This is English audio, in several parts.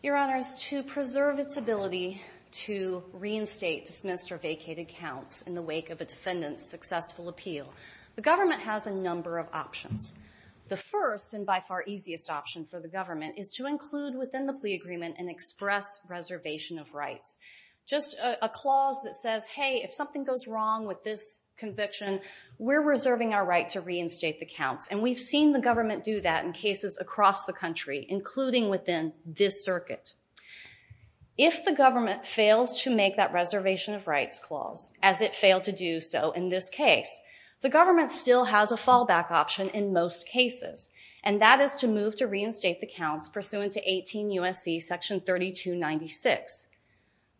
Your Honor, to preserve its ability to reinstate, dismiss, or vacate accounts in the wake of a defendant's successful appeal, the government has a number of options. The first, and by far easiest option for the government, is to include within the plea agreement an express reservation of rights, just a clause that says, hey, if something goes wrong with this conviction, we're reserving our right to reinstate the counts. And we've seen the government do that in cases across the country, including within this circuit. If the government fails to make that reservation of rights clause, as it failed to do so in this case, the government still has a fallback option in most cases, and that is to move to reinstate the counts pursuant to 18 U.S.C. section 3296.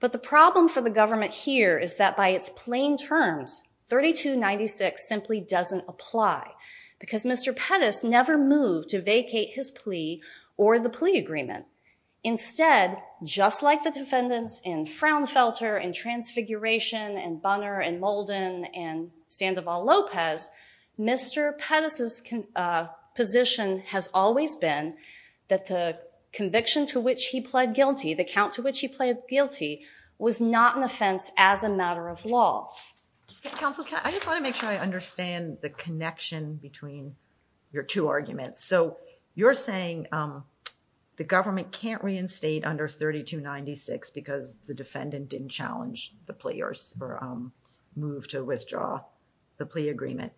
But the problem for the government here is that by its plain terms, 3296 simply doesn't apply, because Mr. Pettis never moved to vacate his plea or the plea agreement. Instead, just like the defendants in Fraunfelter and Transfiguration and Bunner and Molden and Sandoval Lopez, Mr. Pettis' position has always been that the conviction to which he pled guilty, the count to which he pled guilty, was not an offense as a matter of law. Counsel, I just want to make sure I understand the connection between your two arguments. So you're saying the government can't reinstate under 3296 because the defendant didn't challenge the plea or move to withdraw the plea agreement.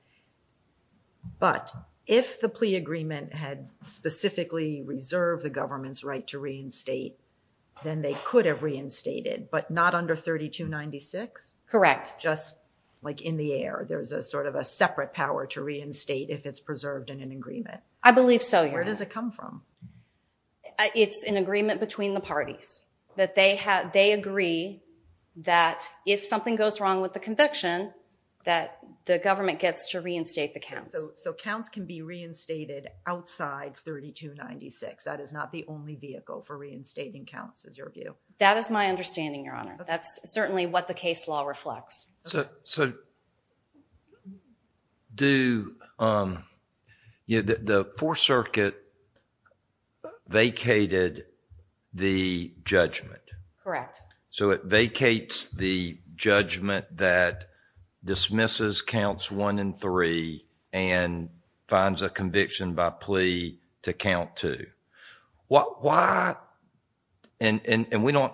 But if the plea agreement had specifically reserved the government's right to reinstate, then they could have reinstated, but not under 3296? Correct. Just like in the air, there's a sort of a separate power to reinstate if it's preserved in an agreement. I believe so, Your Honor. Where does it come from? It's an agreement between the parties, that they agree that if something goes wrong with the conviction, that the government gets to reinstate the counts. So counts can be reinstated outside 3296. That is not the only vehicle for reinstating counts, is your view? That is my understanding, Your Honor. That's certainly what the case law reflects. The Fourth Circuit vacated the judgment. Correct. So it vacates the judgment that dismisses counts one and three and finds a conviction by plea to count two. Why? And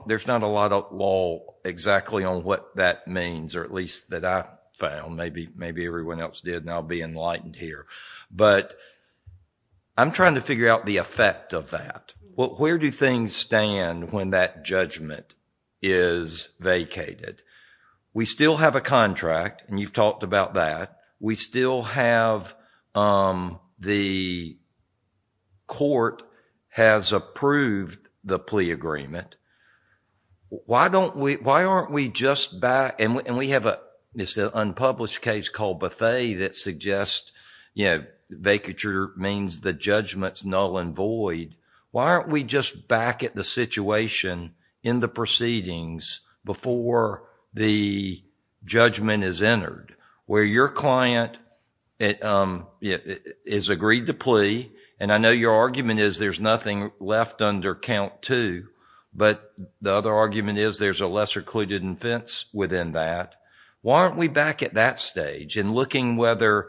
there's not a lot of law exactly on what that means, or at least that I found. Maybe everyone else did, and I'll be enlightened here. But I'm trying to figure out the effect of that. Well, where do things stand when that judgment is vacated? We still have a contract, and you've talked about that. We still have... the court has approved the plea agreement. Why don't we... why aren't we just back... and we have a... it's an unpublished case called Bethe that suggests vacature means the judgment's null and void. Why aren't we just back at the situation in the proceedings before the judgment is entered where your client is agreed to plea, and I know your argument is there's nothing left under count two, but the other argument is there's a lesser clued-in offense within that. Why aren't we back at that stage in looking whether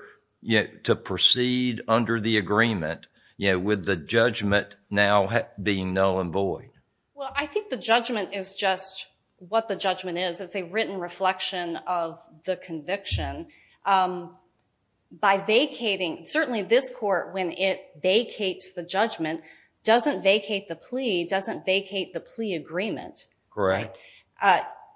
to proceed under the agreement with the judgment now being null and void? Well, I think the judgment is just what the judgment is. It's a written reflection of the conviction. By vacating... certainly this court, when it vacates the judgment, doesn't vacate the plea, doesn't vacate the plea agreement. Correct.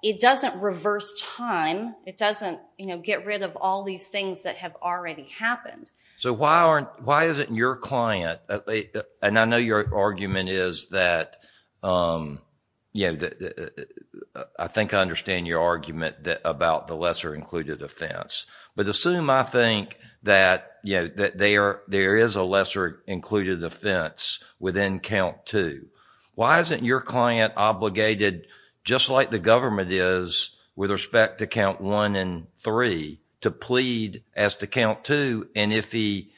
It doesn't reverse time. It doesn't get rid of all these things that have already happened. So, why isn't your client... and I know your argument is that... I think I understand your argument about the lesser included offense, but assume I think that there is a lesser included offense within count two. Why isn't your client obligated, just like the government is with respect to count one and three, to plead as to count two? And if he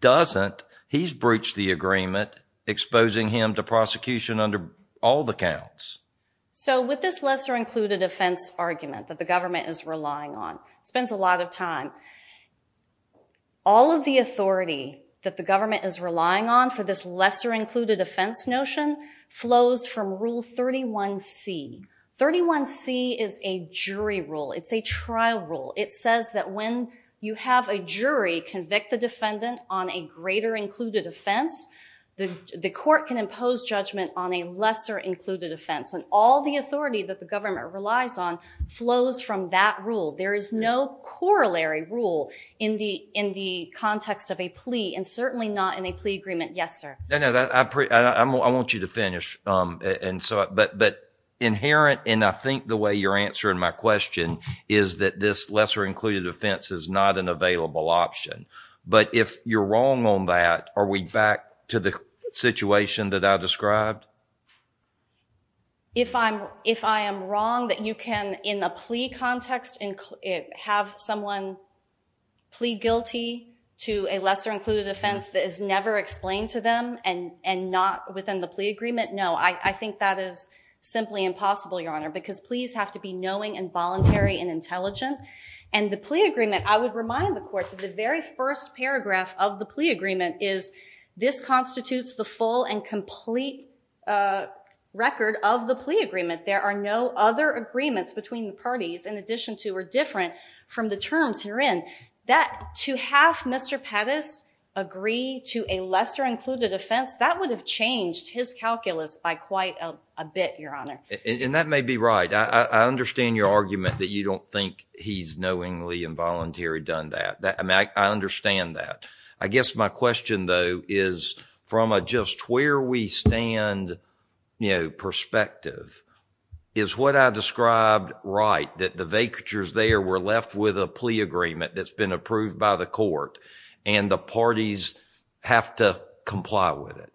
doesn't, he's breached the agreement, exposing him to prosecution under all the counts. So, with this lesser included offense argument that the government is relying on, it spends a lot of time. All of the authority that the government is relying on for this lesser included offense notion flows from rule 31C. 31C is a jury rule. It's a trial rule. It says that when you have a jury convict the defendant on a greater included offense, the court can impose judgment on a lesser included offense. And all the authority that the government relies on flows from that rule. There is no corollary rule in the context of a plea, and certainly not in a plea agreement. Yes, sir. I want you to finish. But inherent, and I think the way you're answering my question, is that this lesser included offense is not an available option. But if you're wrong on that, are we back to the situation that I described? If I am wrong that you can, in a plea context, have someone plead guilty to a lesser included offense that is never explained to them, and not within the plea agreement? No. I think that is simply impossible, Your Honor. Because pleas have to be knowing, and voluntary, and intelligent. And the plea agreement, I would remind the court that the very first paragraph of the plea agreement is, this constitutes the full and complete record of the plea agreement. There are no other agreements between the parties, in addition to or different from the terms herein. That, to have Mr. Pettis agree to a lesser included offense, that would have changed his calculus by quite a bit, Your Honor. And that may be right. I understand your argument that you don't think he's knowingly and voluntarily done that. I understand that. I guess my question, though, is from a just where we stand perspective, is what I described right, that the vacatures there were left with a plea agreement that's been approved by the court, and the parties have to comply with it?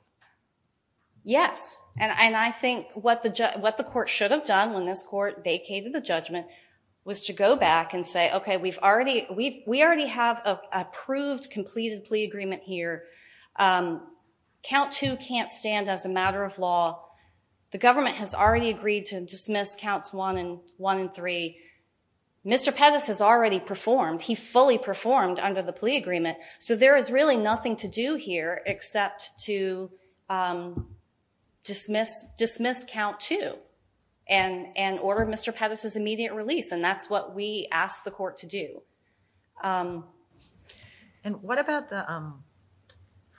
Yes. And I think what the court should have done when this court vacated the judgment was to go back and say, OK, we already have an approved, completed plea agreement here. Count two can't stand as a matter of law. The government has already agreed to dismiss counts one and three. Mr. Pettis has already performed. He fully performed under the plea agreement. So there is really nothing to do here except to dismiss count two and order Mr. Pettis' immediate release. And that's what we asked the court to do. And what about the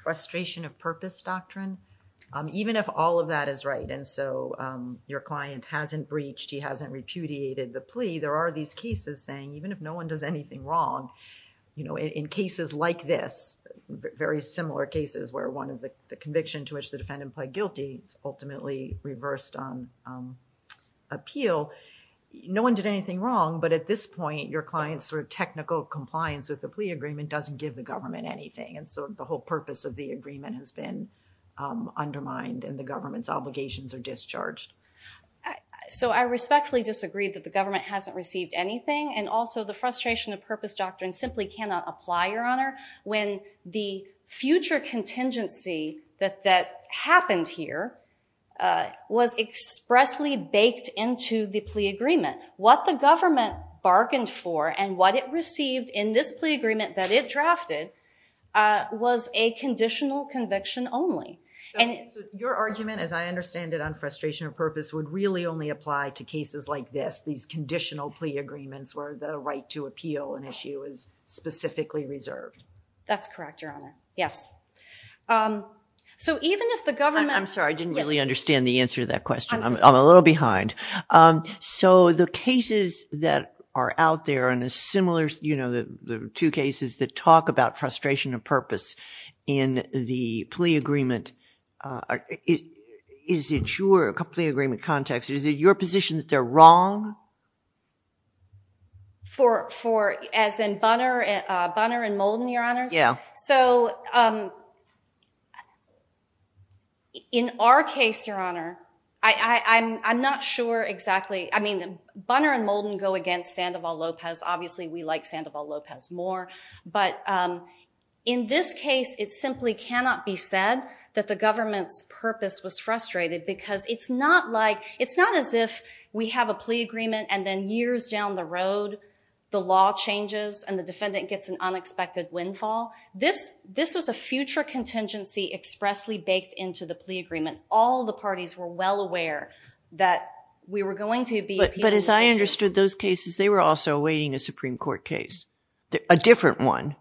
frustration of purpose doctrine? Even if all of that is right, and so your client hasn't breached, he hasn't repudiated the plea, there are these cases saying even if no one does anything wrong, you know, in cases like this, very similar cases where one of the conviction to which the defendant pled guilty is ultimately reversed on appeal, no one did anything wrong. But at this point, your client's sort of technical compliance with the plea agreement doesn't give the government anything. And so the whole purpose of the agreement has been undermined and the government's obligations are discharged. So I respectfully disagree that the government hasn't received anything. And also the frustration of purpose doctrine simply cannot apply, Your Honor, when the future contingency that happened here was expressly baked into the plea agreement. What the government bargained for and what it received in this plea agreement that it was a conditional conviction only. So your argument, as I understand it, on frustration of purpose would really only apply to cases like this, these conditional plea agreements where the right to appeal an issue is specifically reserved. That's correct, Your Honor. Yes. So even if the government... I'm sorry, I didn't really understand the answer to that question. I'm a little behind. So the cases that are out there in a similar, you know, the two cases that talk about frustration of purpose in the plea agreement, is it your plea agreement context, is it your position that they're wrong? As in Bunner and Moulton, Your Honors? Yeah. So in our case, Your Honor, I'm not sure exactly... I mean, Bunner and Moulton go against Sandoval Lopez. Obviously, we like Sandoval Lopez more. But in this case, it simply cannot be said that the government's purpose was frustrated because it's not like... It's not as if we have a plea agreement and then years down the road, the law changes and the defendant gets an unexpected windfall. This was a future contingency expressly baked into the plea agreement. All the parties were well aware that we were going to be... But as I understood those cases, they were also awaiting a Supreme Court case, a different one.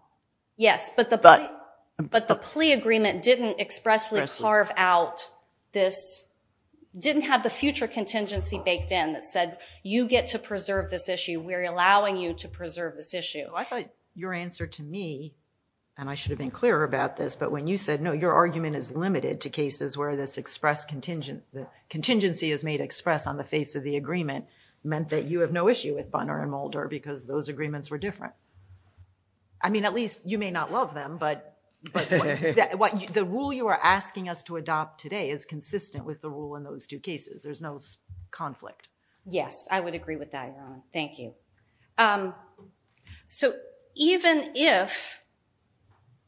Yes, but the plea agreement didn't expressly carve out this... Didn't have the future contingency baked in that said, you get to preserve this issue. We're allowing you to preserve this issue. I thought your answer to me, and I should have been clearer about this, but when you said, no, your argument is limited to cases where this express contingency is made express on the face of the agreement, meant that you have no issue with Bunner and Mulder because those agreements were different. I mean, at least you may not love them, but the rule you are asking us to adopt today is consistent with the rule in those two cases. Yes, I would agree with that, Your Honor. Thank you. So even if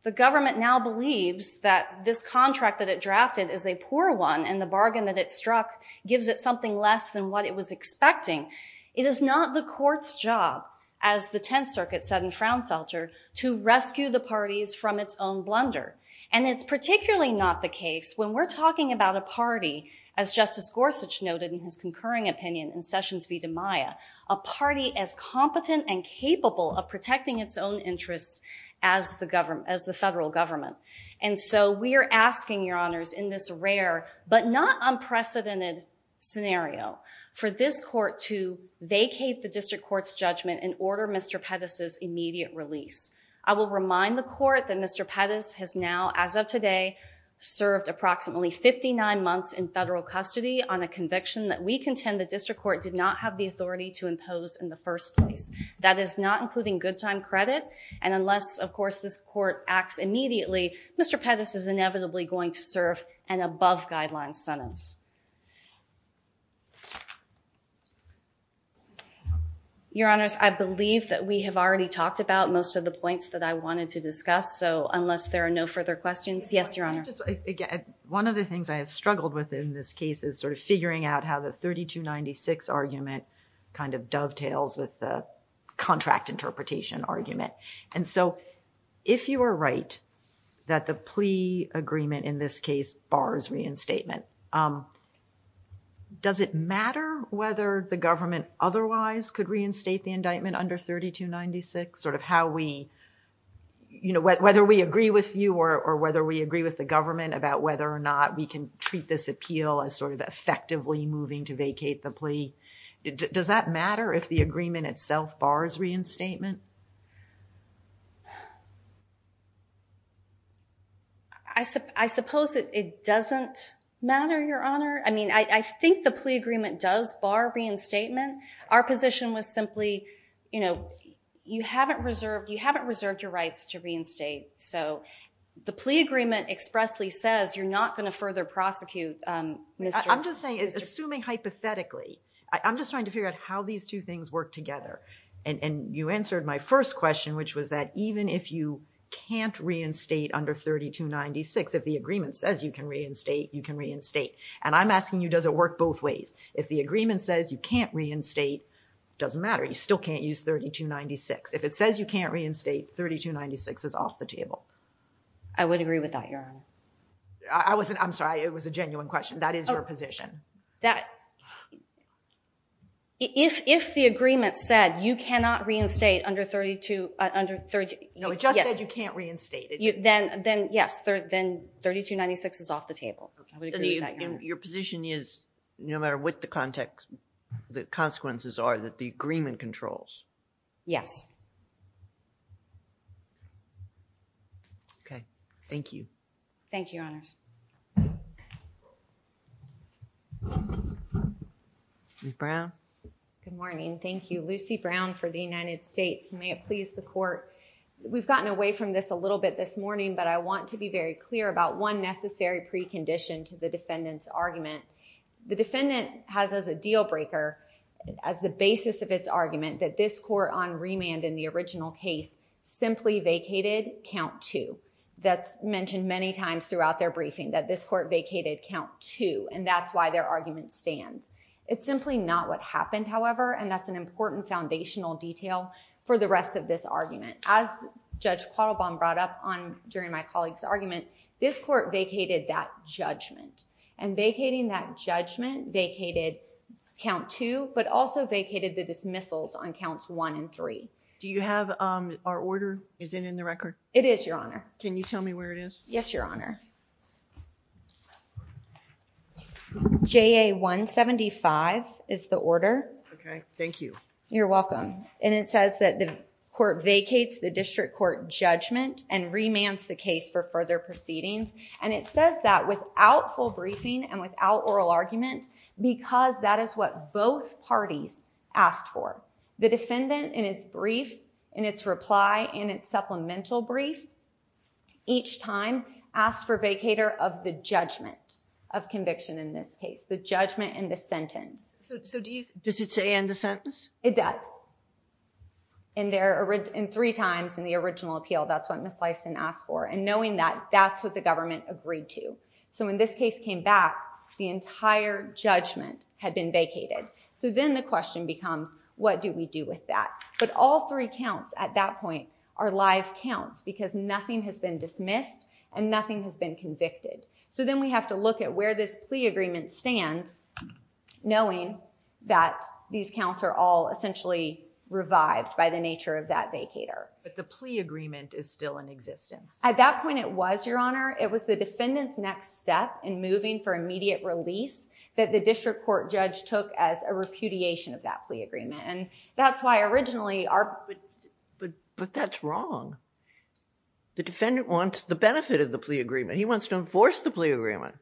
the government now believes that this contract that it drafted is a poor one and the bargain that it struck gives it something less than what it was expecting, it is not the court's job, as the Tenth Circuit said in Fraunfelter, to rescue the parties from its own blunder. And it's particularly not the case when we're talking about a party, as Justice Gorsuch noted in his concurring opinion in Sessions v. DiMaia, a party as competent and capable of protecting its own interests as the federal government. And so we are asking, Your Honors, in this rare but not unprecedented scenario for this court to vacate the district court's judgment and order Mr. Pettis' immediate release. I will remind the court that Mr. Pettis has now, as of today, served approximately 59 months in federal custody on a conviction that we contend the district court did not have the authority to impose in the first place. That is not including good time credit. And unless, of course, this court acts immediately, Mr. Pettis is inevitably going to serve an above-guideline sentence. Your Honors, I believe that we have already talked about most of the points that I wanted to discuss. So unless there are no further questions, yes, Your Honor. One of the things I have struggled with in this case is sort of figuring out how the 3296 argument kind of dovetails with the contract interpretation argument. And so if you are right that the plea agreement in this case bars reinstatement, does it matter whether the government otherwise could reinstate the indictment under 3296? Sort of how we, you know, whether we agree with you or whether we agree with the government about whether or not we can treat this appeal as sort of effectively moving to vacate the plea. Does that matter if the agreement itself bars reinstatement? I suppose it doesn't matter, Your Honor. I mean, I think the plea agreement does bar reinstatement. Our position was simply, you know, you haven't reserved your rights to reinstate. So the plea agreement expressly says you're not going to further prosecute Mr. I'm just saying, assuming hypothetically, I'm just trying to figure out how these two things work together. And you answered my first question, which was that even if you can't reinstate under 3296, if the agreement says you can reinstate, you can reinstate. And I'm asking you, does it work both ways? If the agreement says you can't reinstate, it doesn't matter. You still can't use 3296. If it says you can't reinstate, 3296 is off the table. I would agree with that, Your Honor. I'm sorry. It was a genuine question. That is your position. If the agreement said you cannot reinstate under 32— No, it just said you can't reinstate. Then, yes, then 3296 is off the table. Your position is, no matter what the consequences are, that the agreement controls? Yes. Okay. Thank you. Thank you, Your Honors. Ms. Brown? Good morning. Thank you. Lucy Brown for the United States. May it please the Court. We've gotten away from this a little bit this morning, but I want to be very clear about one necessary precondition to the defendant's argument. The defendant has as a deal breaker, as the basis of its argument, that this court on remand in the original case simply vacated count two. That's mentioned many times throughout their briefing, that this court vacated count two, and that's why their argument stands. It's simply not what happened, however, and as Judge Quattlebaum brought up during my colleague's argument, this court vacated that judgment, and vacating that judgment vacated count two, but also vacated the dismissals on counts one and three. Do you have our order? Is it in the record? It is, Your Honor. Can you tell me where it is? Yes, Your Honor. JA-175 is the order. Okay. Thank you. You're welcome. It says that the court vacates the district court judgment and remands the case for further proceedings, and it says that without full briefing and without oral argument because that is what both parties asked for. The defendant, in its brief, in its reply, in its supplemental brief, each time asked for vacator of the judgment of conviction in this case, the judgment and the sentence. Does it say, and the sentence? It does. And three times in the original appeal, that's what Ms. Leiston asked for, and knowing that, that's what the government agreed to. So when this case came back, the entire judgment had been vacated. So then the question becomes, what do we do with that? But all three counts at that point are live counts because nothing has been dismissed and nothing has been convicted. So then we have to look at where this plea agreement stands, knowing that these counts are all essentially revived by the nature of that vacator. But the plea agreement is still in existence. At that point, it was, Your Honor. It was the defendant's next step in moving for immediate release that the district court judge took as a repudiation of that plea agreement, and that's why originally our... But that's wrong. The defendant wants the benefit of the plea agreement. He wants to enforce the plea agreement.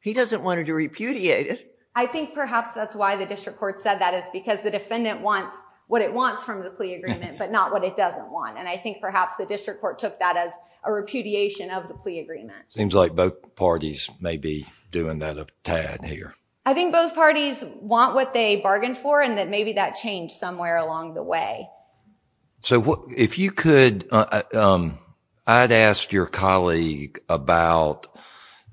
He doesn't want to repudiate it. I think perhaps that's why the district court said that, is because the defendant wants what it wants from the plea agreement, but not what it doesn't want, and I think perhaps the district court took that as a repudiation of the plea agreement. Seems like both parties may be doing that a tad here. I think both parties want what they bargained for and that maybe that changed somewhere along the way. If you could... I'd ask your colleague about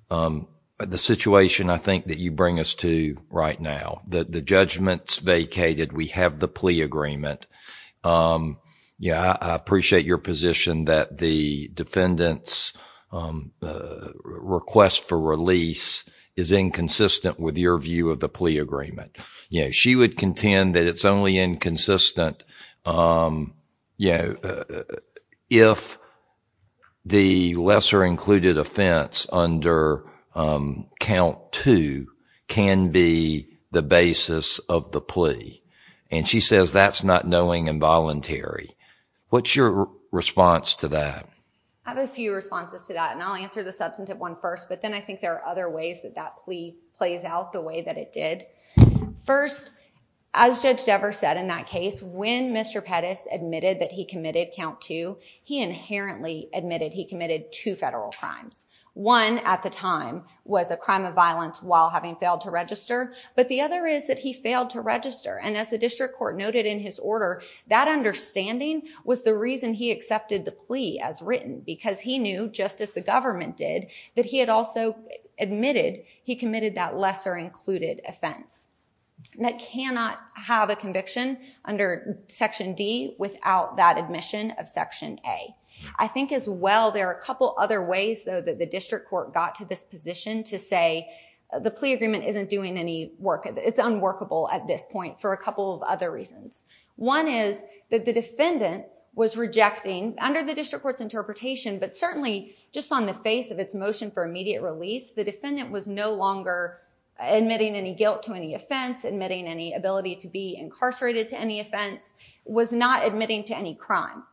the situation, I think, that you bring us to right now. The judgment's vacated. We have the plea agreement. I appreciate your position that the defendant's request for release is inconsistent with your view of the plea agreement. She would contend that it's only inconsistent if the lesser-included offense under Count 2 can be the basis of the plea, and she says that's not knowing and voluntary. What's your response to that? I have a few responses to that, and I'll answer the substantive one first, but then I think there are other ways that that plea plays out the way that it did. First, as Judge Dever said in that case, when Mr. Pettis admitted that he committed Count 2, he inherently admitted he committed two federal crimes. One at the time was a crime of violence while having failed to register, but the other is that he failed to register, and as the district court noted in his order, that understanding was the reason he accepted the plea as written because he knew, just as the government did, that he had also admitted he committed that lesser-included offense that cannot have a conviction under Section D without that admission of Section A. I think, as well, there are a couple other ways, though, that the district court got to this position to say the plea agreement isn't doing any work. It's unworkable at this point for a couple of other reasons. One is that the defendant was rejecting, under the district court's interpretation, but certainly just on the face of its motion for immediate release, the defendant was no longer admitting any guilt to any offense, admitting any ability to be incarcerated to any offense, was not admitting to any crime.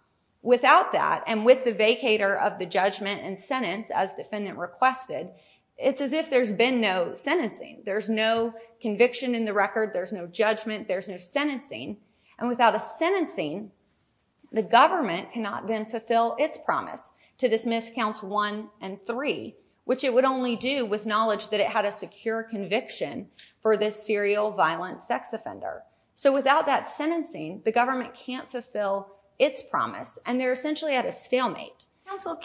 Without that, and with the vacator of the judgment and sentence, as defendant requested, it's as if there's been no sentencing. There's no conviction in the record. There's no judgment. There's no sentencing. And without a sentencing, the government cannot then fulfill its promise to dismiss Counts 1 and 3, which it would only do with knowledge that it had a secure conviction for this serial violent sex offender. So without that sentencing, the government can't fulfill its promise, and they're essentially at a stalemate. Counsel,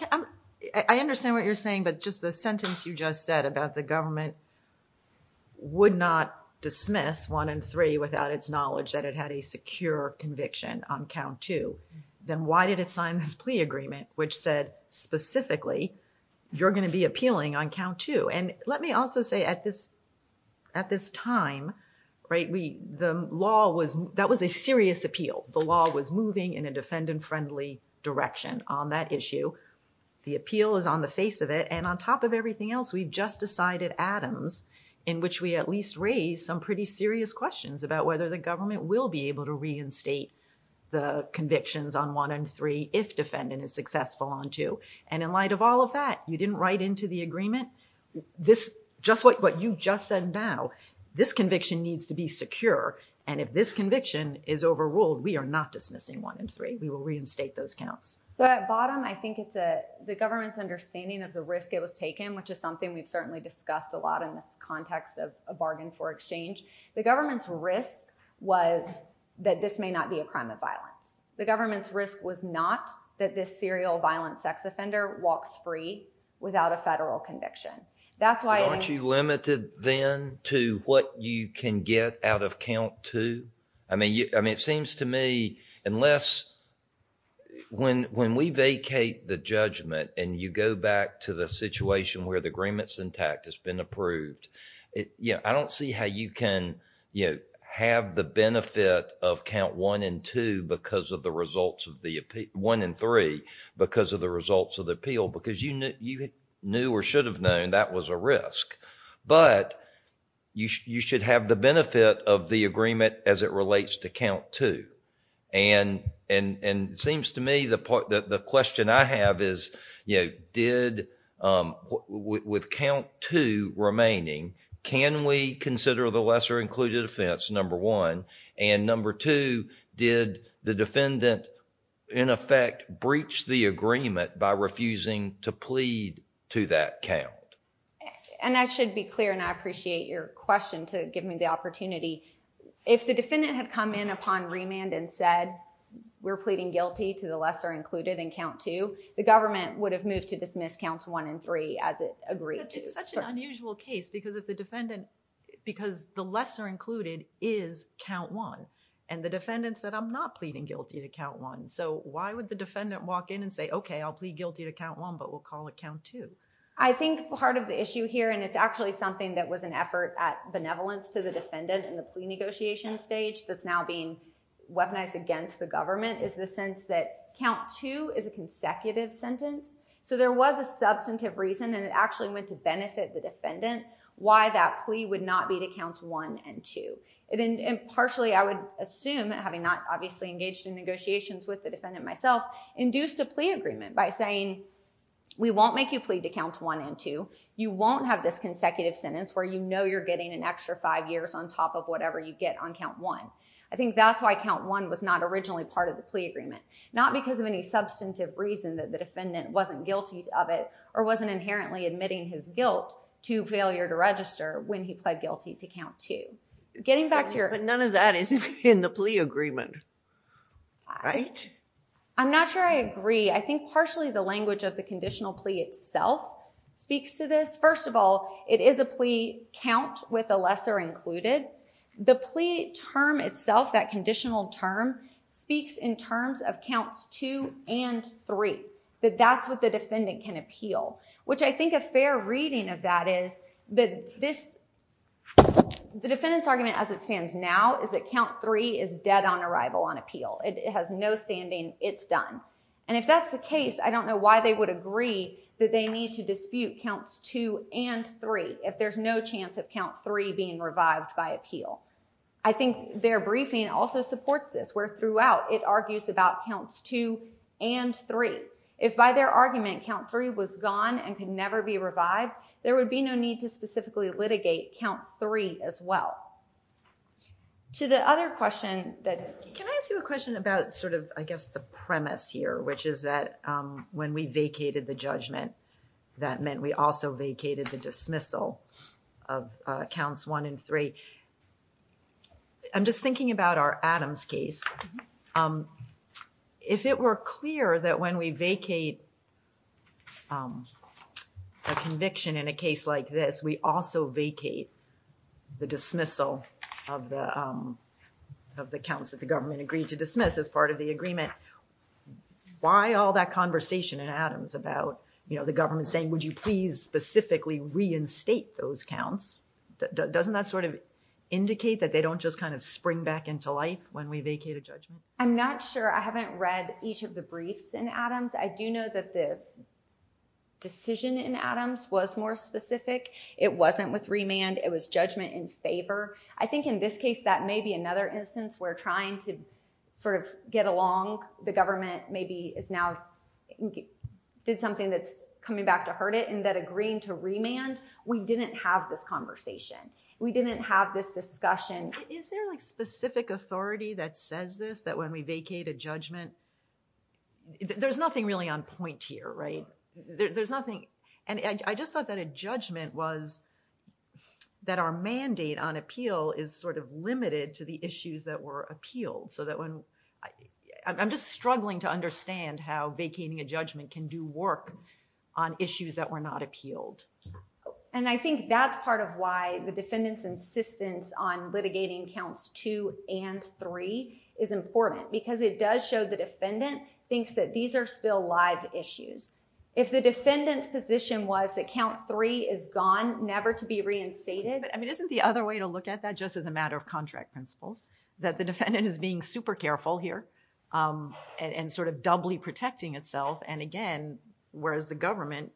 I understand what you're saying, but just the sentence you just said about the government would not dismiss 1 and 3 without its knowledge that it had a secure conviction on Count 2. Then why did it sign this plea agreement which said, specifically, you're going to be appealing on Count 2? And let me also say, at this time, that was a serious appeal. The law was moving in a defendant-friendly direction on that issue. The appeal is on the face of it, and on top of everything else, we've just decided Adams, in which we at least raised some pretty serious questions about whether the government will be able to reinstate the convictions on 1 and 3 if defendant is successful on 2. And in light of all of that, you didn't write into the agreement, what you just said now, this conviction needs to be secure, and if this conviction is overruled, we are not dismissing 1 and 3. We will reinstate those counts. So at bottom, I think it's the government's understanding of the risk it was taken, which is something we've certainly discussed a lot in this context of a bargain for exchange. The government's risk was that this may not be a crime of violence. The government's risk was not that this serial violent sex offender walks free without a federal conviction. Aren't you limited then to what you can get out of Count 2? I mean, it seems to me, unless when we vacate the judgment and you go back to the situation where the agreement's intact, it's been approved, I don't see how you can have the benefit of Count 1 and 2 because of the results of the appeal, 1 and 3 because of the results of the appeal, because you knew or should have known that was a risk. But you should have the benefit of the agreement as it relates to Count 2. And it seems to me the question I have is, with Count 2 remaining, can we consider the lesser included offense, Number 1? And Number 2, did the defendant in effect breach the agreement by refusing to plead to that count? And I should be clear and I appreciate your question to give me the opportunity. If the defendant had come in upon remand and said, we're pleading guilty to the lesser included in Count 2, the government would have moved to dismiss Counts 1 and 3 as it agreed to. But it's such an unusual case because if the defendant, because the lesser included is Count 1, and the defendant said, I'm not pleading guilty to Count 1. So why would the defendant walk in and say, okay, I'll plead guilty to Count 1, but we'll call it Count 2? I think part of the issue here, and it's actually something that was an effort at benevolence to the defendant in the plea negotiation stage that's now being weaponized against the government, is the sense that Count 2 is a consecutive sentence. So there was a substantive reason, and it actually went to benefit the defendant why that plea would not be to Counts 1 and 2. And partially, I would assume, having not obviously engaged in negotiations with the defendant myself, induced a plea agreement by saying, we won't make you plead to Counts 1 and 2. You won't have this consecutive sentence where you know you're getting an extra five years on top of whatever you get on Count 1. I think that's why Count 1 was not originally part of the plea agreement. Not because of any substantive reason that the defendant wasn't guilty of it or wasn't inherently admitting his guilt to failure to register when he pled guilty to Count 2. Getting back to your... But none of that is in the plea agreement, right? I'm not sure I agree. I think partially the language of the conditional plea itself speaks to this. First of all, it is a plea count with a lesser included. The plea term itself, that conditional term, speaks in terms of Counts 2 and 3. That that's what the defendant can appeal. Which I think a fair reading of that is that this... The defendant's argument as it stands now is that Count 3 is dead on arrival on appeal. It has no standing, it's done. And if that's the case, I don't know why they would agree that they need to dispute Counts 2 and 3 if there's no chance of Count 3 being revived by appeal. I think their briefing also supports this, where throughout it argues about Counts 2 and 3. If by their argument Count 3 was gone and could never be revived, there would be no need to specifically litigate Count 3 as well. To the other question that... Can I ask you a question about sort of, I guess, the premise here, which is that when we vacated the judgment, that meant we also vacated the dismissal of Counts 1 and 3. I'm just thinking about our Adams case. If it were clear that when we vacate a conviction in a case like this, we also vacate the dismissal of the, of the counts that the government agreed to dismiss as part of the agreement, why all that conversation in Adams about, you know, the government saying, would you please specifically reinstate those counts? Doesn't that sort of indicate that they don't just kind of spring back into life when we vacate a judgment? I'm not sure. I haven't read each of the briefs in Adams. I do know that the decision in Adams was more specific. It wasn't with remand. It was judgment in favor. I think in this case, that may be another instance where trying to sort of get along, the government maybe is now, did something that's coming back to hurt it and that agreeing to remand, we didn't have this conversation. We didn't have this discussion. Is there like specific authority that says this, that when we vacate a judgment, there's nothing really on point here, right? There's nothing. And I just thought that a judgment was that our mandate on appeal is sort of limited to the issues that were appealed. So that when, I'm just struggling to understand how vacating a judgment can do work on issues that were not appealed. And I think that's part of why the defendant's insistence on litigating counts two and three is important because it does show the defendant thinks that these are still live issues. If the defendant's position was that count three is gone, never to be reinstated. But I mean, isn't the other way to look at that just as a matter of contract principles, that the defendant is being super careful here and sort of doubly protecting itself. And again, whereas the government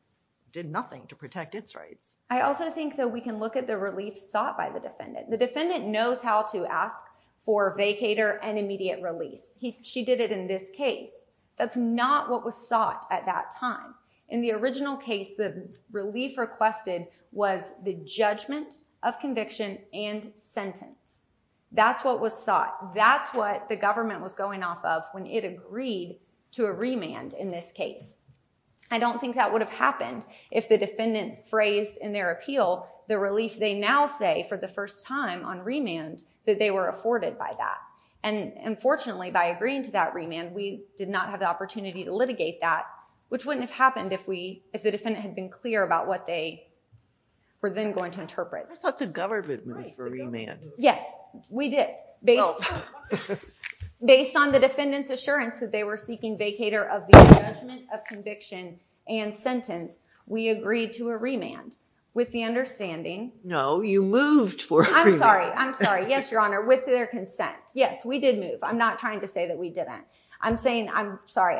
did nothing to protect its rights. I also think that we can look at the relief sought by the defendant. The defendant knows how to ask for vacator and immediate release. She did it in this case. That's not what was sought at that time. In the original case, the relief requested was the judgment of conviction and sentence. That's what was sought. That's what the government was going off of when it agreed to a remand in this case. I don't think that would have happened if the defendant phrased in their appeal the relief they now say for the first time on remand that they were afforded by that. And unfortunately, by agreeing to that remand, we did not have the opportunity to litigate that, been clear about what they were then going to interpret. I thought the government moved for a remand. Yes, we did. Based on the defendant's assurance that they were seeking vacator of the judgment of conviction and sentence, we agreed to a remand with the understanding. No, you moved for a remand. I'm sorry, I'm sorry. Yes, Your Honor, with their consent. Yes, we did move. I'm not trying to say that we didn't. I'm saying, I'm sorry,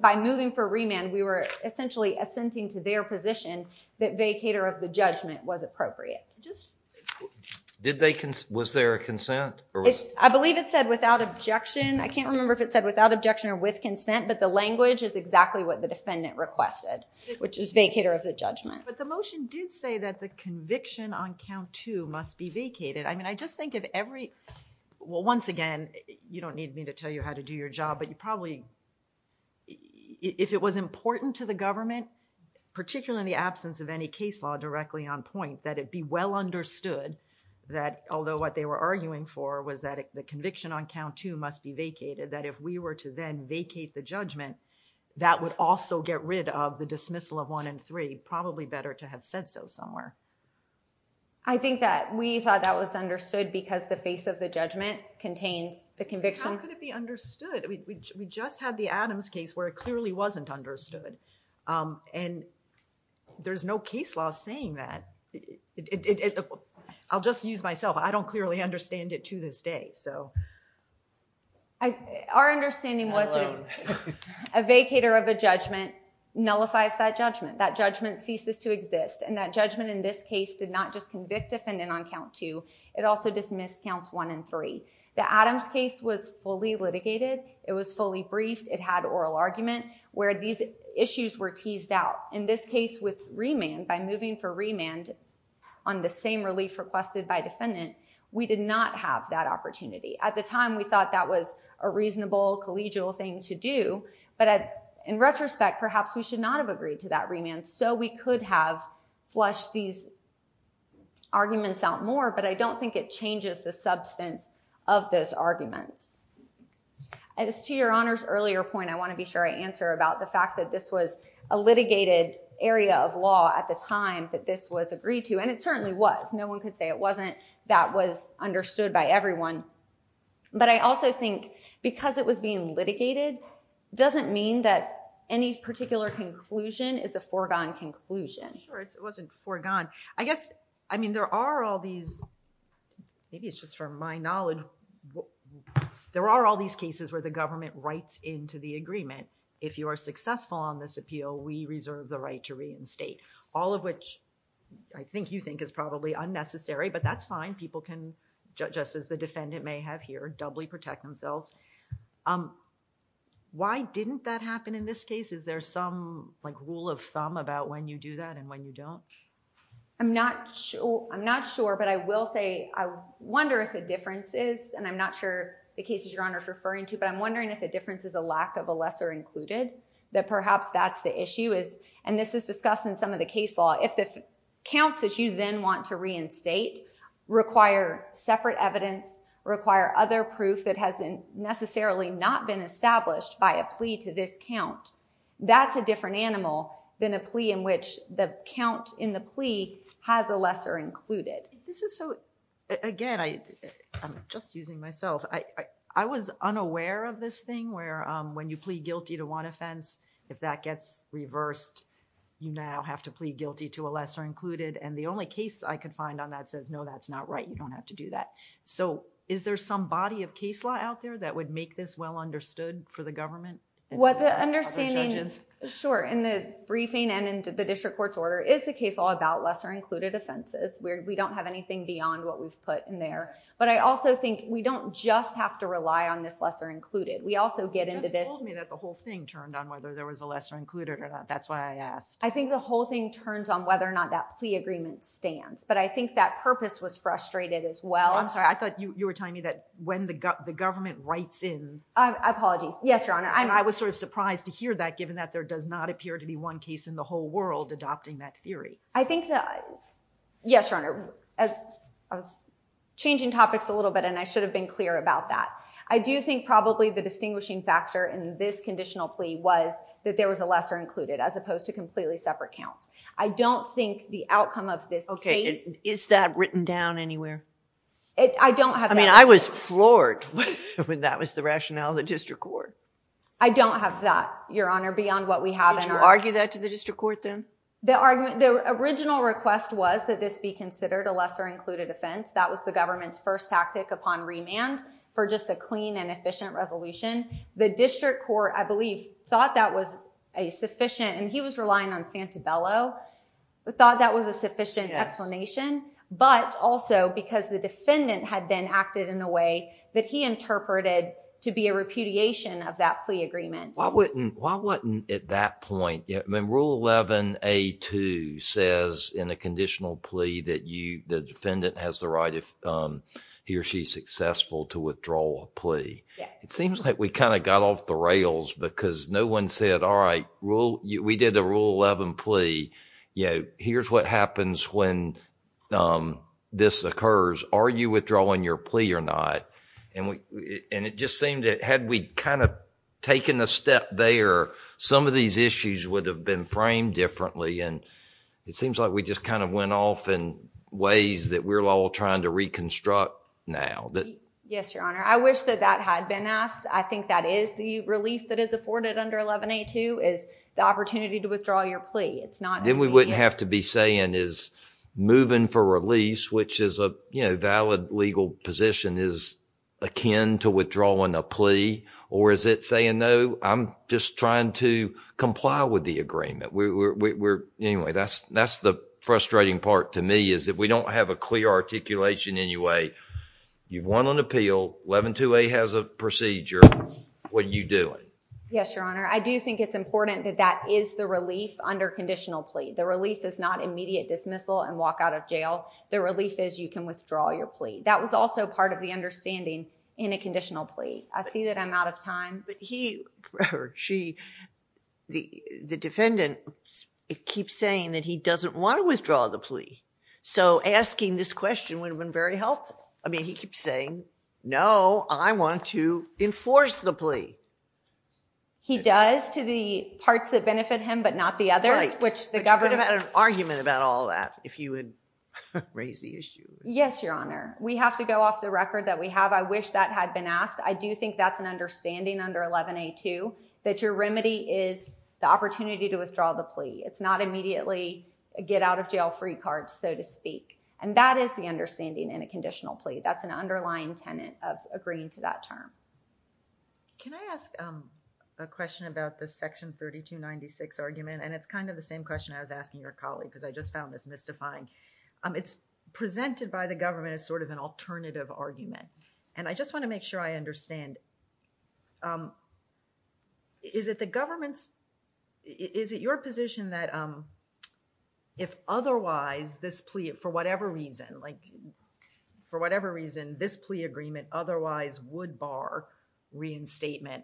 by moving for remand, we were essentially assenting to their position that vacator of the judgment was appropriate. Did they, was there a consent? I believe it said without objection. I can't remember if it said without objection or with consent, but the language is exactly what the defendant requested, which is vacator of the judgment. But the motion did say that the conviction on count two must be vacated. I mean, I just think if every, well, once again, you don't need me to tell you how to do your job, but you probably, if it was important to the government, particularly in the absence of any case law directly on point, that it be well understood that although what they were arguing for was that the conviction on count two must be vacated, that if we were to then vacate the judgment, that would also get rid of the dismissal of one and three. Probably better to have said so somewhere. I think that we thought that was understood because the face of the judgment contains the conviction. How could it be understood? We just had the Adams case where it clearly wasn't understood. And there's no case law saying that. I'll just use myself. I don't clearly understand it to this day. Our understanding was that a vacator of a judgment nullifies that judgment. That judgment ceases to exist. And that judgment in this case did not just convict defendant on count two. It also dismissed counts one and three. The Adams case was fully litigated. It was fully briefed. It had oral argument where these issues were teased out. In this case with remand, by moving for remand on the same relief requested by defendant, we did not have that opportunity. At the time, we thought that was a reasonable, collegial thing to do. But in retrospect, perhaps we should not have agreed to that remand so we could have flushed these arguments out more. But I don't think it changes the substance of those arguments. As to your Honor's earlier point, I want to be sure I answer about the fact that this was a litigated area of law at the time that this was agreed to. And it certainly was. No one could say it wasn't. That was understood by everyone. But I also think because it was being litigated doesn't mean that any particular conclusion is a foregone conclusion. Sure, it wasn't foregone. I guess, I mean, there are all these, maybe it's just from my knowledge, but there are all these cases where the government writes into the agreement, if you are successful on this appeal, we reserve the right to reinstate. All of which I think you think is probably unnecessary, but that's fine. People can, just as the defendant may have here, doubly protect themselves. Why didn't that happen in this case? Is there some rule of thumb about when you do that and when you don't? I'm not sure. But I will say, I wonder if the difference is, and I'm not sure the case that Your Honor is referring to, but I'm wondering if the difference is a lack of a lesser included, that perhaps that's the issue. And this is discussed in some of the case law. If the counts that you then want to reinstate require separate evidence, require other proof that has necessarily not been established by a plea to this count, that's a different animal than a plea in which the count in the plea has a lesser included. This is so... Again, I'm just using myself. I was unaware of this thing where when you plead guilty to one offense, if that gets reversed, you now have to plead guilty to a lesser included and the only case I could find on that says, no, that's not right, you don't have to do that. So, is there some body of case law out there that would make this well understood for the government? What the understanding... The Supreme Court's order is the case law about lesser included offenses. We don't have anything beyond what we've put in there. But I also think we don't just have to rely on this lesser included. We also get into this... You just told me that the whole thing turned on whether there was a lesser included or not. That's why I asked. I think the whole thing turns on whether or not that plea agreement stands. But I think that purpose was frustrated as well. I'm sorry. I thought you were telling me that when the government writes in... Apologies. Yes, Your Honor. I was sort of surprised to hear that given that there does not appear to be one case in the whole world adopting that theory. I think that... Yes, Your Honor. I was changing topics a little bit and I should have been clear about that. I do think probably the distinguishing factor in this conditional plea was that there was a lesser included as opposed to completely separate counts. I don't think the outcome of this case... Okay. Is that written down anywhere? I don't have that. I mean, I was floored when that was the rationale of the district court. I don't have that, Your Honor, beyond what we have in our... Did you argue that to the district court then? The original request was that this be considered a lesser included offense. That was the government's first tactic upon remand for just a clean and efficient resolution. The district court, I believe, thought that was a sufficient... and he was relying on Santabello. He thought that was a sufficient explanation but also because the defendant had then acted in a way that he interpreted to be a repudiation of that plea agreement. Why wasn't at that point... I mean, Rule 11A2 says in a conditional plea that the defendant has the right if he or she is successful to withdraw a plea. It seems like we kind of got off the rails because no one said, all right, we did a Rule 11 plea. Here's what happens when this occurs. Are you withdrawing your plea or not? It just seemed that had we kind of taken a step there, some of these issues would have been framed differently and it seems like we just kind of went off in ways that we're all trying to reconstruct now. Yes, Your Honor. I wish that that had been asked. I think that is the relief that is afforded under 11A2 is the opportunity to withdraw your plea. It's not... Then we wouldn't have to be saying is moving for release, which is a valid legal position, is akin to withdrawing a plea or is it saying, no, I'm just trying to comply with the agreement. We're... Anyway, that's the frustrating part to me is that we don't have a clear articulation anyway. You've won an appeal. 11A2 has a procedure. What are you doing? Yes, Your Honor. I do think it's important that that is the relief under conditional plea. The relief is not immediate dismissal and walk out of jail. The relief is you can withdraw your plea. That was also part of the understanding in a conditional plea. I see that I'm out of time. The defendant keeps saying that he doesn't want to withdraw the plea. Asking this question would have been very helpful. He keeps saying, no, I want to enforce the plea. He does to the parts that benefit him but not the others, which the government... Yes, Your Honor. We have to go off the record that we have. I wish that had been asked. I do think that's an understanding under 11A2 that your remedy is the opportunity to withdraw the plea. It's not immediately a get out of jail free card, so to speak. That is the understanding in a conditional plea. That's an underlying tenant of agreeing to that term. Can I ask a question about the Section 3296 argument? It's kind of the same question I was asking your colleague because I just found this mystifying. It's presented by the government as sort of an alternative argument. I just want to make sure I understand. Is it the government's... Is it your position that if otherwise this plea, for whatever reason... like for whatever reason, this plea agreement otherwise would bar reinstatement,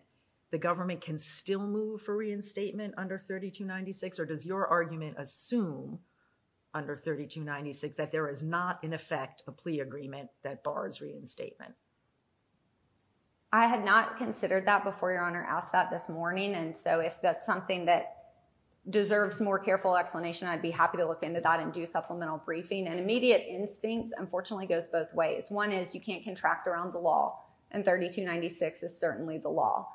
the government can still move for reinstatement under 3296? Or does your argument assume under 3296 that there is not, in effect, a plea agreement that bars reinstatement? I had not considered that before Your Honor asked that this morning, and so if that's something that deserves more careful explanation, I'd be happy to look into that and do supplemental briefing. Immediate instinct, unfortunately, goes both ways. One is you can't contract around the law, and 3296 is certainly the law.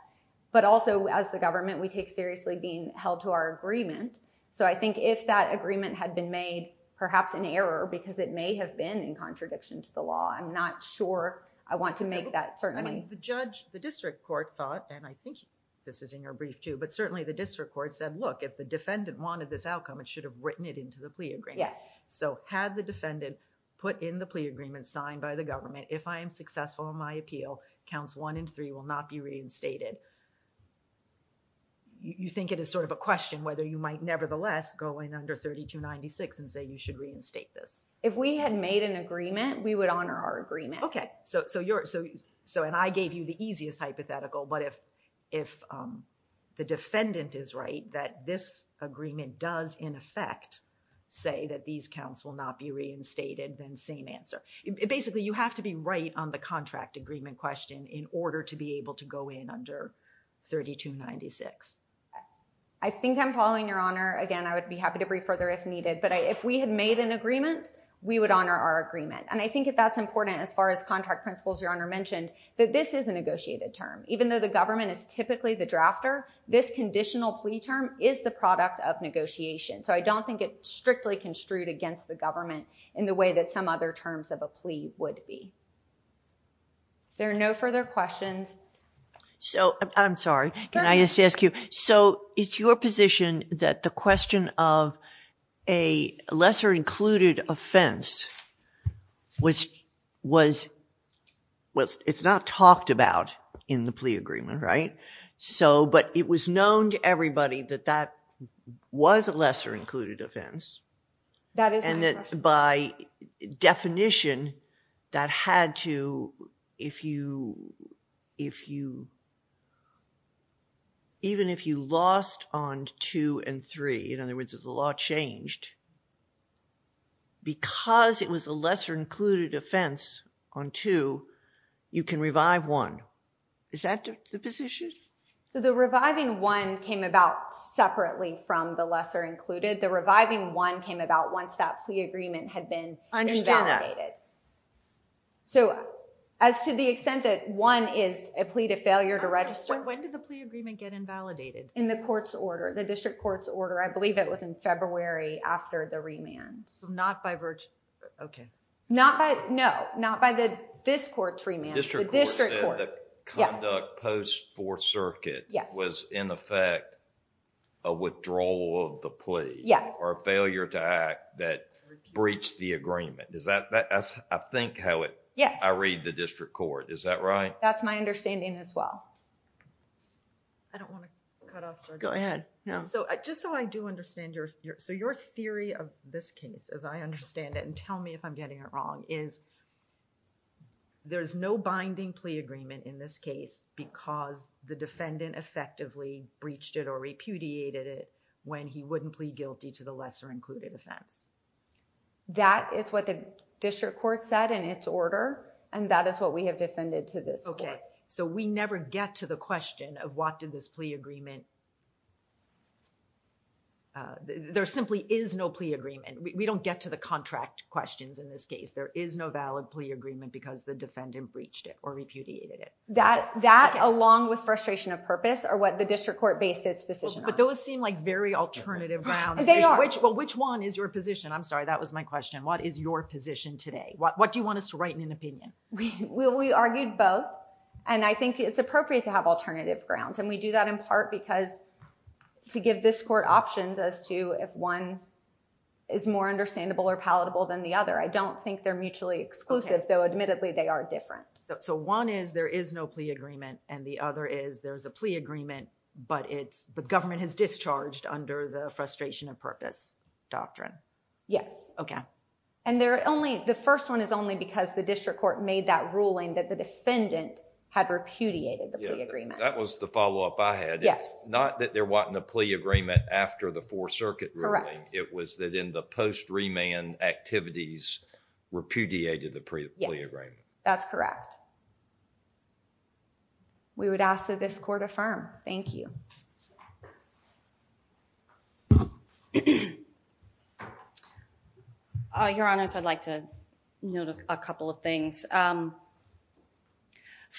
But also, as the government, we take seriously being held to our agreement. So I think if that agreement had been made, perhaps in error, because it may have been in contradiction to the law. I'm not sure I want to make that... I mean, the judge, the district court thought, and I think this is in your brief too, but certainly the district court said, look, if the defendant wanted this outcome, it should have written it into the plea agreement. So had the defendant put in the plea agreement signed by the government, if I am successful in my appeal, counts one and three will not be reinstated. You think it is sort of a question whether you might nevertheless go in under 3296 and say you should reinstate this? If we had made an agreement, we would honor our agreement. Okay. So you're... So and I gave you the easiest hypothetical, but if the defendant is right that this agreement does in effect say that these counts will not be reinstated, then same answer. Basically, you have to be right on the contract agreement question in order to be able to go in under 3296. I think I'm following Your Honor. Again, I would be happy to brief further if needed. But if we had made an agreement, we would honor our agreement. And I think that's important as far as contract principles Your Honor mentioned, that this is a negotiated term. Even though the government is typically the drafter, this conditional plea term is the product of negotiation. So I don't think it's strictly construed against the government in the way that some other terms of a plea would be. If there are no further questions... So I'm sorry. Can I just ask you? So it's your position that the question of a lesser included offense was... Well, it's not talked about in the plea agreement, right? But it was known to everybody that that was a lesser included offense. That is my question. And that by definition, that had to, if you... even if you lost on 2 and 3, in other words, if the law changed, because it was a lesser included offense on 2, you can revive 1. Is that the position? So the reviving 1 came about separately from the lesser included. The reviving 1 came about once that plea agreement had been invalidated. I understand that. So as to the extent that 1 is a plea to failure to register... When did the plea agreement get invalidated? In the court's order. The district court's order. I believe it was in February after the remand. So not by... Okay. Not by... No. Not by this court's remand. The district court. The district court said that conduct post-Fourth Circuit... Yes.... was in effect a withdrawal of the plea... Yes.... or a failure to act that breached the agreement. Is that... I think how it... Yes. I read the district court. Is that right? That's my understanding as well. I don't want to cut off... Go ahead. No. Just so I do understand your... So your theory of this case as I understand it and tell me if I'm getting it wrong is there's no binding plea agreement in this case because the defendant effectively breached it or repudiated it when he wouldn't plead guilty to the lesser included offense. That is what the district court said in its order and that is what we have defended to this court. Okay. So we never get to the question of what did this plea agreement... There simply is no plea agreement. We don't get to the contract questions in this case. There is no valid plea agreement because the defendant breached it or repudiated it. That along with frustration of purpose are what the district court based its decision on. But those seem like very alternative grounds. They are. Well, which one is your position? I'm sorry. That was my question. What is your position today? What do you want us to write in an opinion? We argued both and I think it's appropriate to have alternative grounds and we do that in part because to give this court options as to if one is more understandable or palatable than the other. I don't think they're mutually exclusive though admittedly they are different. So, one is there is no plea agreement and the other is there's a plea agreement but it's the government has discharged under the frustration of purpose doctrine. Yes. Okay. And there are only... the first one is only because the district court made that ruling that the defendant had repudiated the plea agreement. Yeah. That was the follow-up I had. Yes. It's not that they're wanting a plea agreement after the Fourth Circuit ruling. Correct. It was that in the post remand activities repudiated the plea agreement. That's correct. We would ask that this court affirm. Thank you. Your Honors, I'd like to note a couple of things.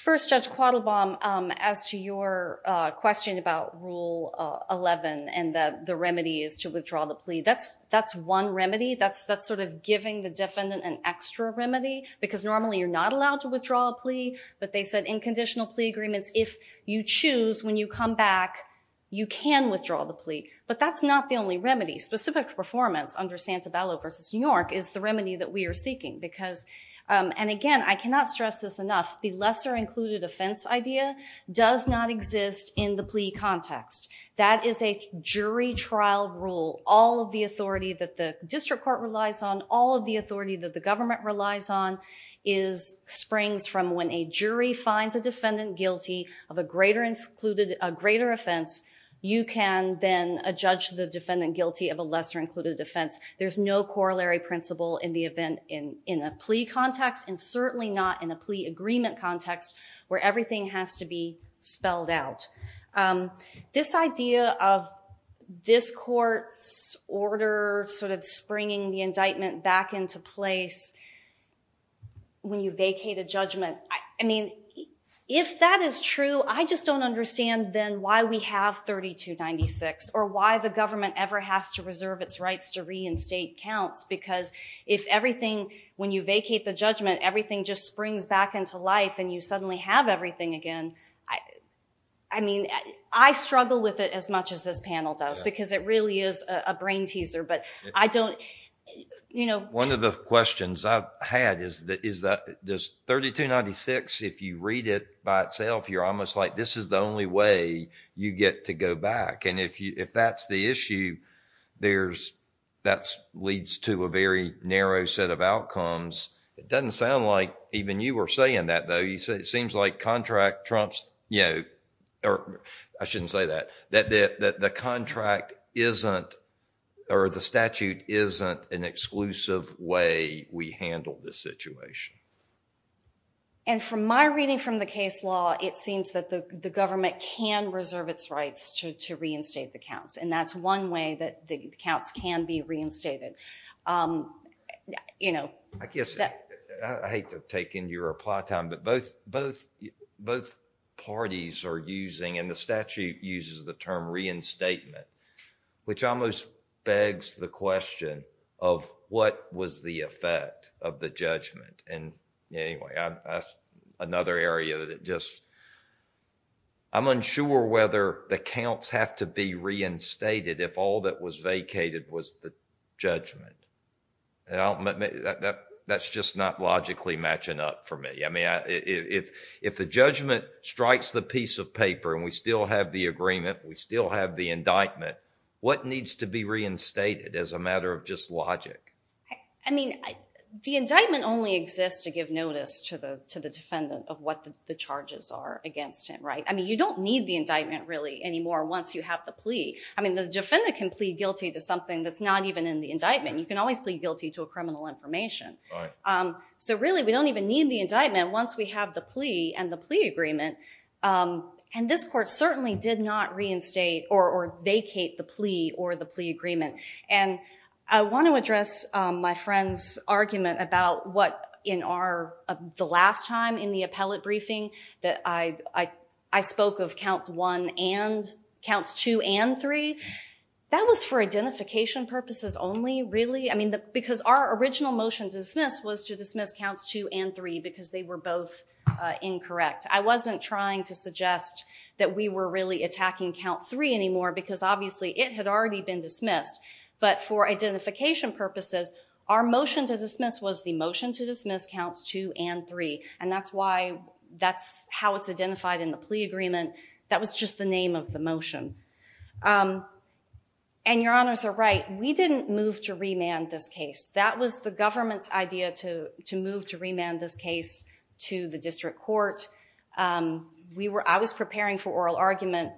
First, Judge Quattlebaum, as to your question about Rule 11 and that the remedy is to withdraw the plea, that's one remedy? That's sort of giving the defendant an extra remedy? Because normally you're not allowed to withdraw a plea but they said in conditional plea agreements, if you choose, when you come back, you can withdraw the plea. But that's not the only remedy. Specific performance under Santabello v. New York is the remedy that we are seeking because... and again, I cannot stress this enough. The lesser included offense idea does not exist in the plea context. That is a jury trial rule. All of the authority that the district court relies on, all of the authority that the district court relies on springs from when a jury finds a defendant guilty of a greater offense, you can then judge the defendant guilty of a lesser included offense. There's no corollary principle in the event in a plea context and certainly not in a plea agreement context where everything has to be spelled out. This idea of this court's order sort of springing the indictment back into place when you vacate a judgment, I mean, if that is true, I just don't understand then why we have 3296 or why the government ever has to reserve its rights to reinstate counts because if everything, when you vacate the judgment, everything just springs back into life and you suddenly have everything again, I mean, I struggle with it as much as this panel does because it really is a brain teaser. One of the questions I've had is does 3296, if you read it by itself, you're almost like this is the only way you get to go back. If that's the issue, that leads to a very narrow set of outcomes. It doesn't sound like even you were saying that, though. It seems like contract trumps... I shouldn't say that. That the contract isn't or the statute isn't an exclusive way we handle this situation. From my reading from the case law, it seems that the government can reserve its rights to reinstate the counts and that's one way that the counts can be reinstated. I hate to take in your reply time, but both parties are using and the term reinstatement, which almost begs the question of what was the effect of the judgment. Anyway, that's another area that just... I'm unsure whether the counts have to be reinstated if all that was vacated was the judgment. That's just not logically matching up for me. If the judgment strikes the piece of paper and we still have the agreement, we still have the indictment, what needs to be reinstated as a matter of just logic? The indictment only exists to give notice to the defendant of what the charges are against him. You don't need the indictment really anymore once you have the plea. The defendant can plead guilty to something that's not even in the indictment. You can always plead guilty to a criminal information. Really, we don't even need the indictment once we have the plea and the plea agreement. This court certainly did not reinstate or vacate the plea or the plea agreement. I want to address my friend's argument about what in the last time in the appellate briefing that I spoke of counts two and three. That was for identification purposes only, really? Because our original motion to dismiss was to dismiss counts two and three because they were both incorrect. I wasn't trying to suggest that we were really attacking count three anymore because obviously it had already been dismissed. But for identification purposes, our motion to dismiss was the motion to dismiss counts two and three. That's how it's identified in the plea agreement. That was just the name of the motion. Your honors are right. We didn't move to remand this case. That was the government's idea to move to remand this case to the district court. I was preparing for oral argument.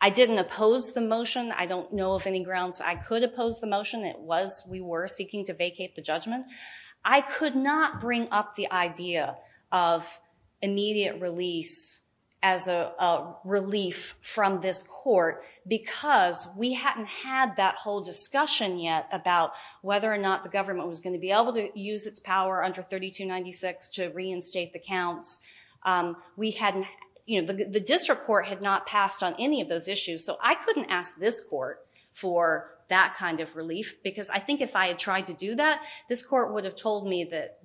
I didn't oppose the motion. I don't know of any grounds I could oppose the motion. It was we were seeking to vacate the judgment. I could not bring up the idea of immediate release as a relief from this discussion yet about whether or not the government was going to be able to use its power under 3296 to reinstate the counts. The district court had not passed on any of those issues. So I couldn't ask this court for that kind of relief because I think if I had tried to do that, this court would have told me that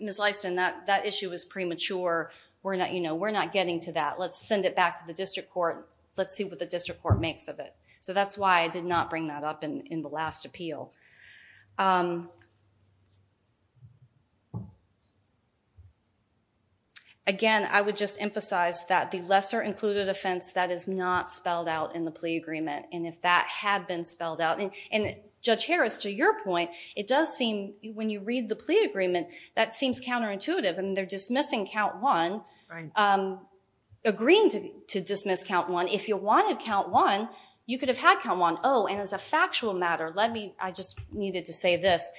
Ms. Leiston, that issue was premature. We're not getting to that. Let's send it back to the district court. Let's see what the district court makes of it. So that's why I did not bring that up in the last appeal. Again, I would just emphasize that the lesser included offense, that is not spelled out in the plea agreement. And if that had been spelled out, and Judge Harris, to your point, it does seem when you read the plea agreement, that seems counterintuitive. They're dismissing count one, agreeing to dismiss count one. If you wanted count one, you could have had count one. Oh, and as a factual matter, I just needed to say this.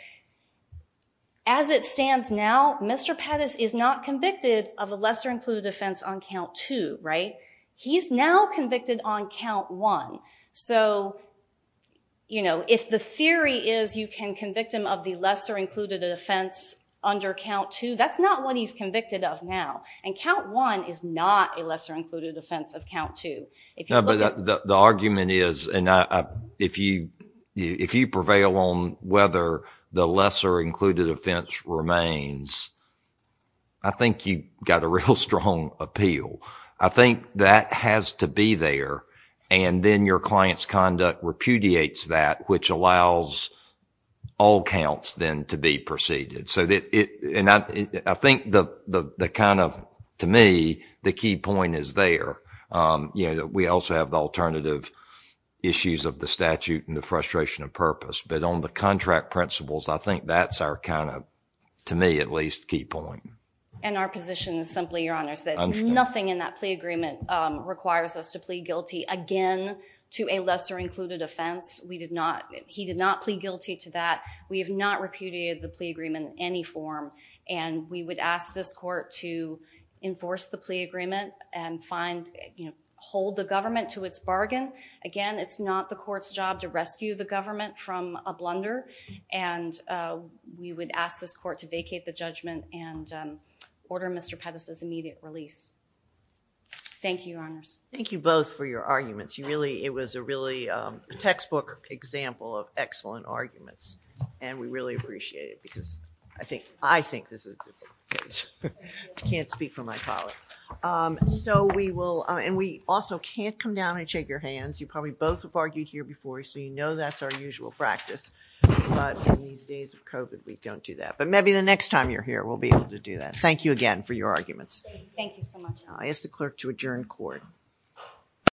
As it stands now, Mr. Pettis is not convicted of a lesser included offense on count two. He's now convicted on count one. So if the theory is you can convict him of the lesser included offense under count two, that's not what he's convicted of now. And count one is not a lesser included offense of count two. The argument is, and if you prevail on whether the lesser included offense remains, I think you've got a real strong appeal. I think that has to be there, and then your client's conduct repudiates that, which allows all counts then to be preceded. And I think to me, the key point is there. We also have the alternative issues of the statute and the frustration of purpose. But on the contract principles, I think that's our, to me at least, key point. And our position is simply, Your Honors, that nothing in that plea agreement requires us to plead guilty, again, to a lesser included offense. He did not plead guilty to that. We have not repudiated the plea agreement in any form. And we would ask this court to enforce the plea agreement and hold the government to its bargain. Again, it's not the court's job to rescue the government from a blunder. And we would ask this court to vacate the judgment and order Mr. Pettis' immediate release. Thank you, Your Honors. Thank you both for your arguments. You really, it was a really textbook example of excellent arguments. And we really appreciate it, because I think this is, I can't speak for my colleague. So we will, and we also can't come down and shake your hands. You probably both have argued here before, so you know that's our usual practice. But in these days of COVID, we don't do that. But maybe the next time you're here, we'll be able to do that. Thank you again for your arguments. Thank you so much. I ask the clerk to adjourn court.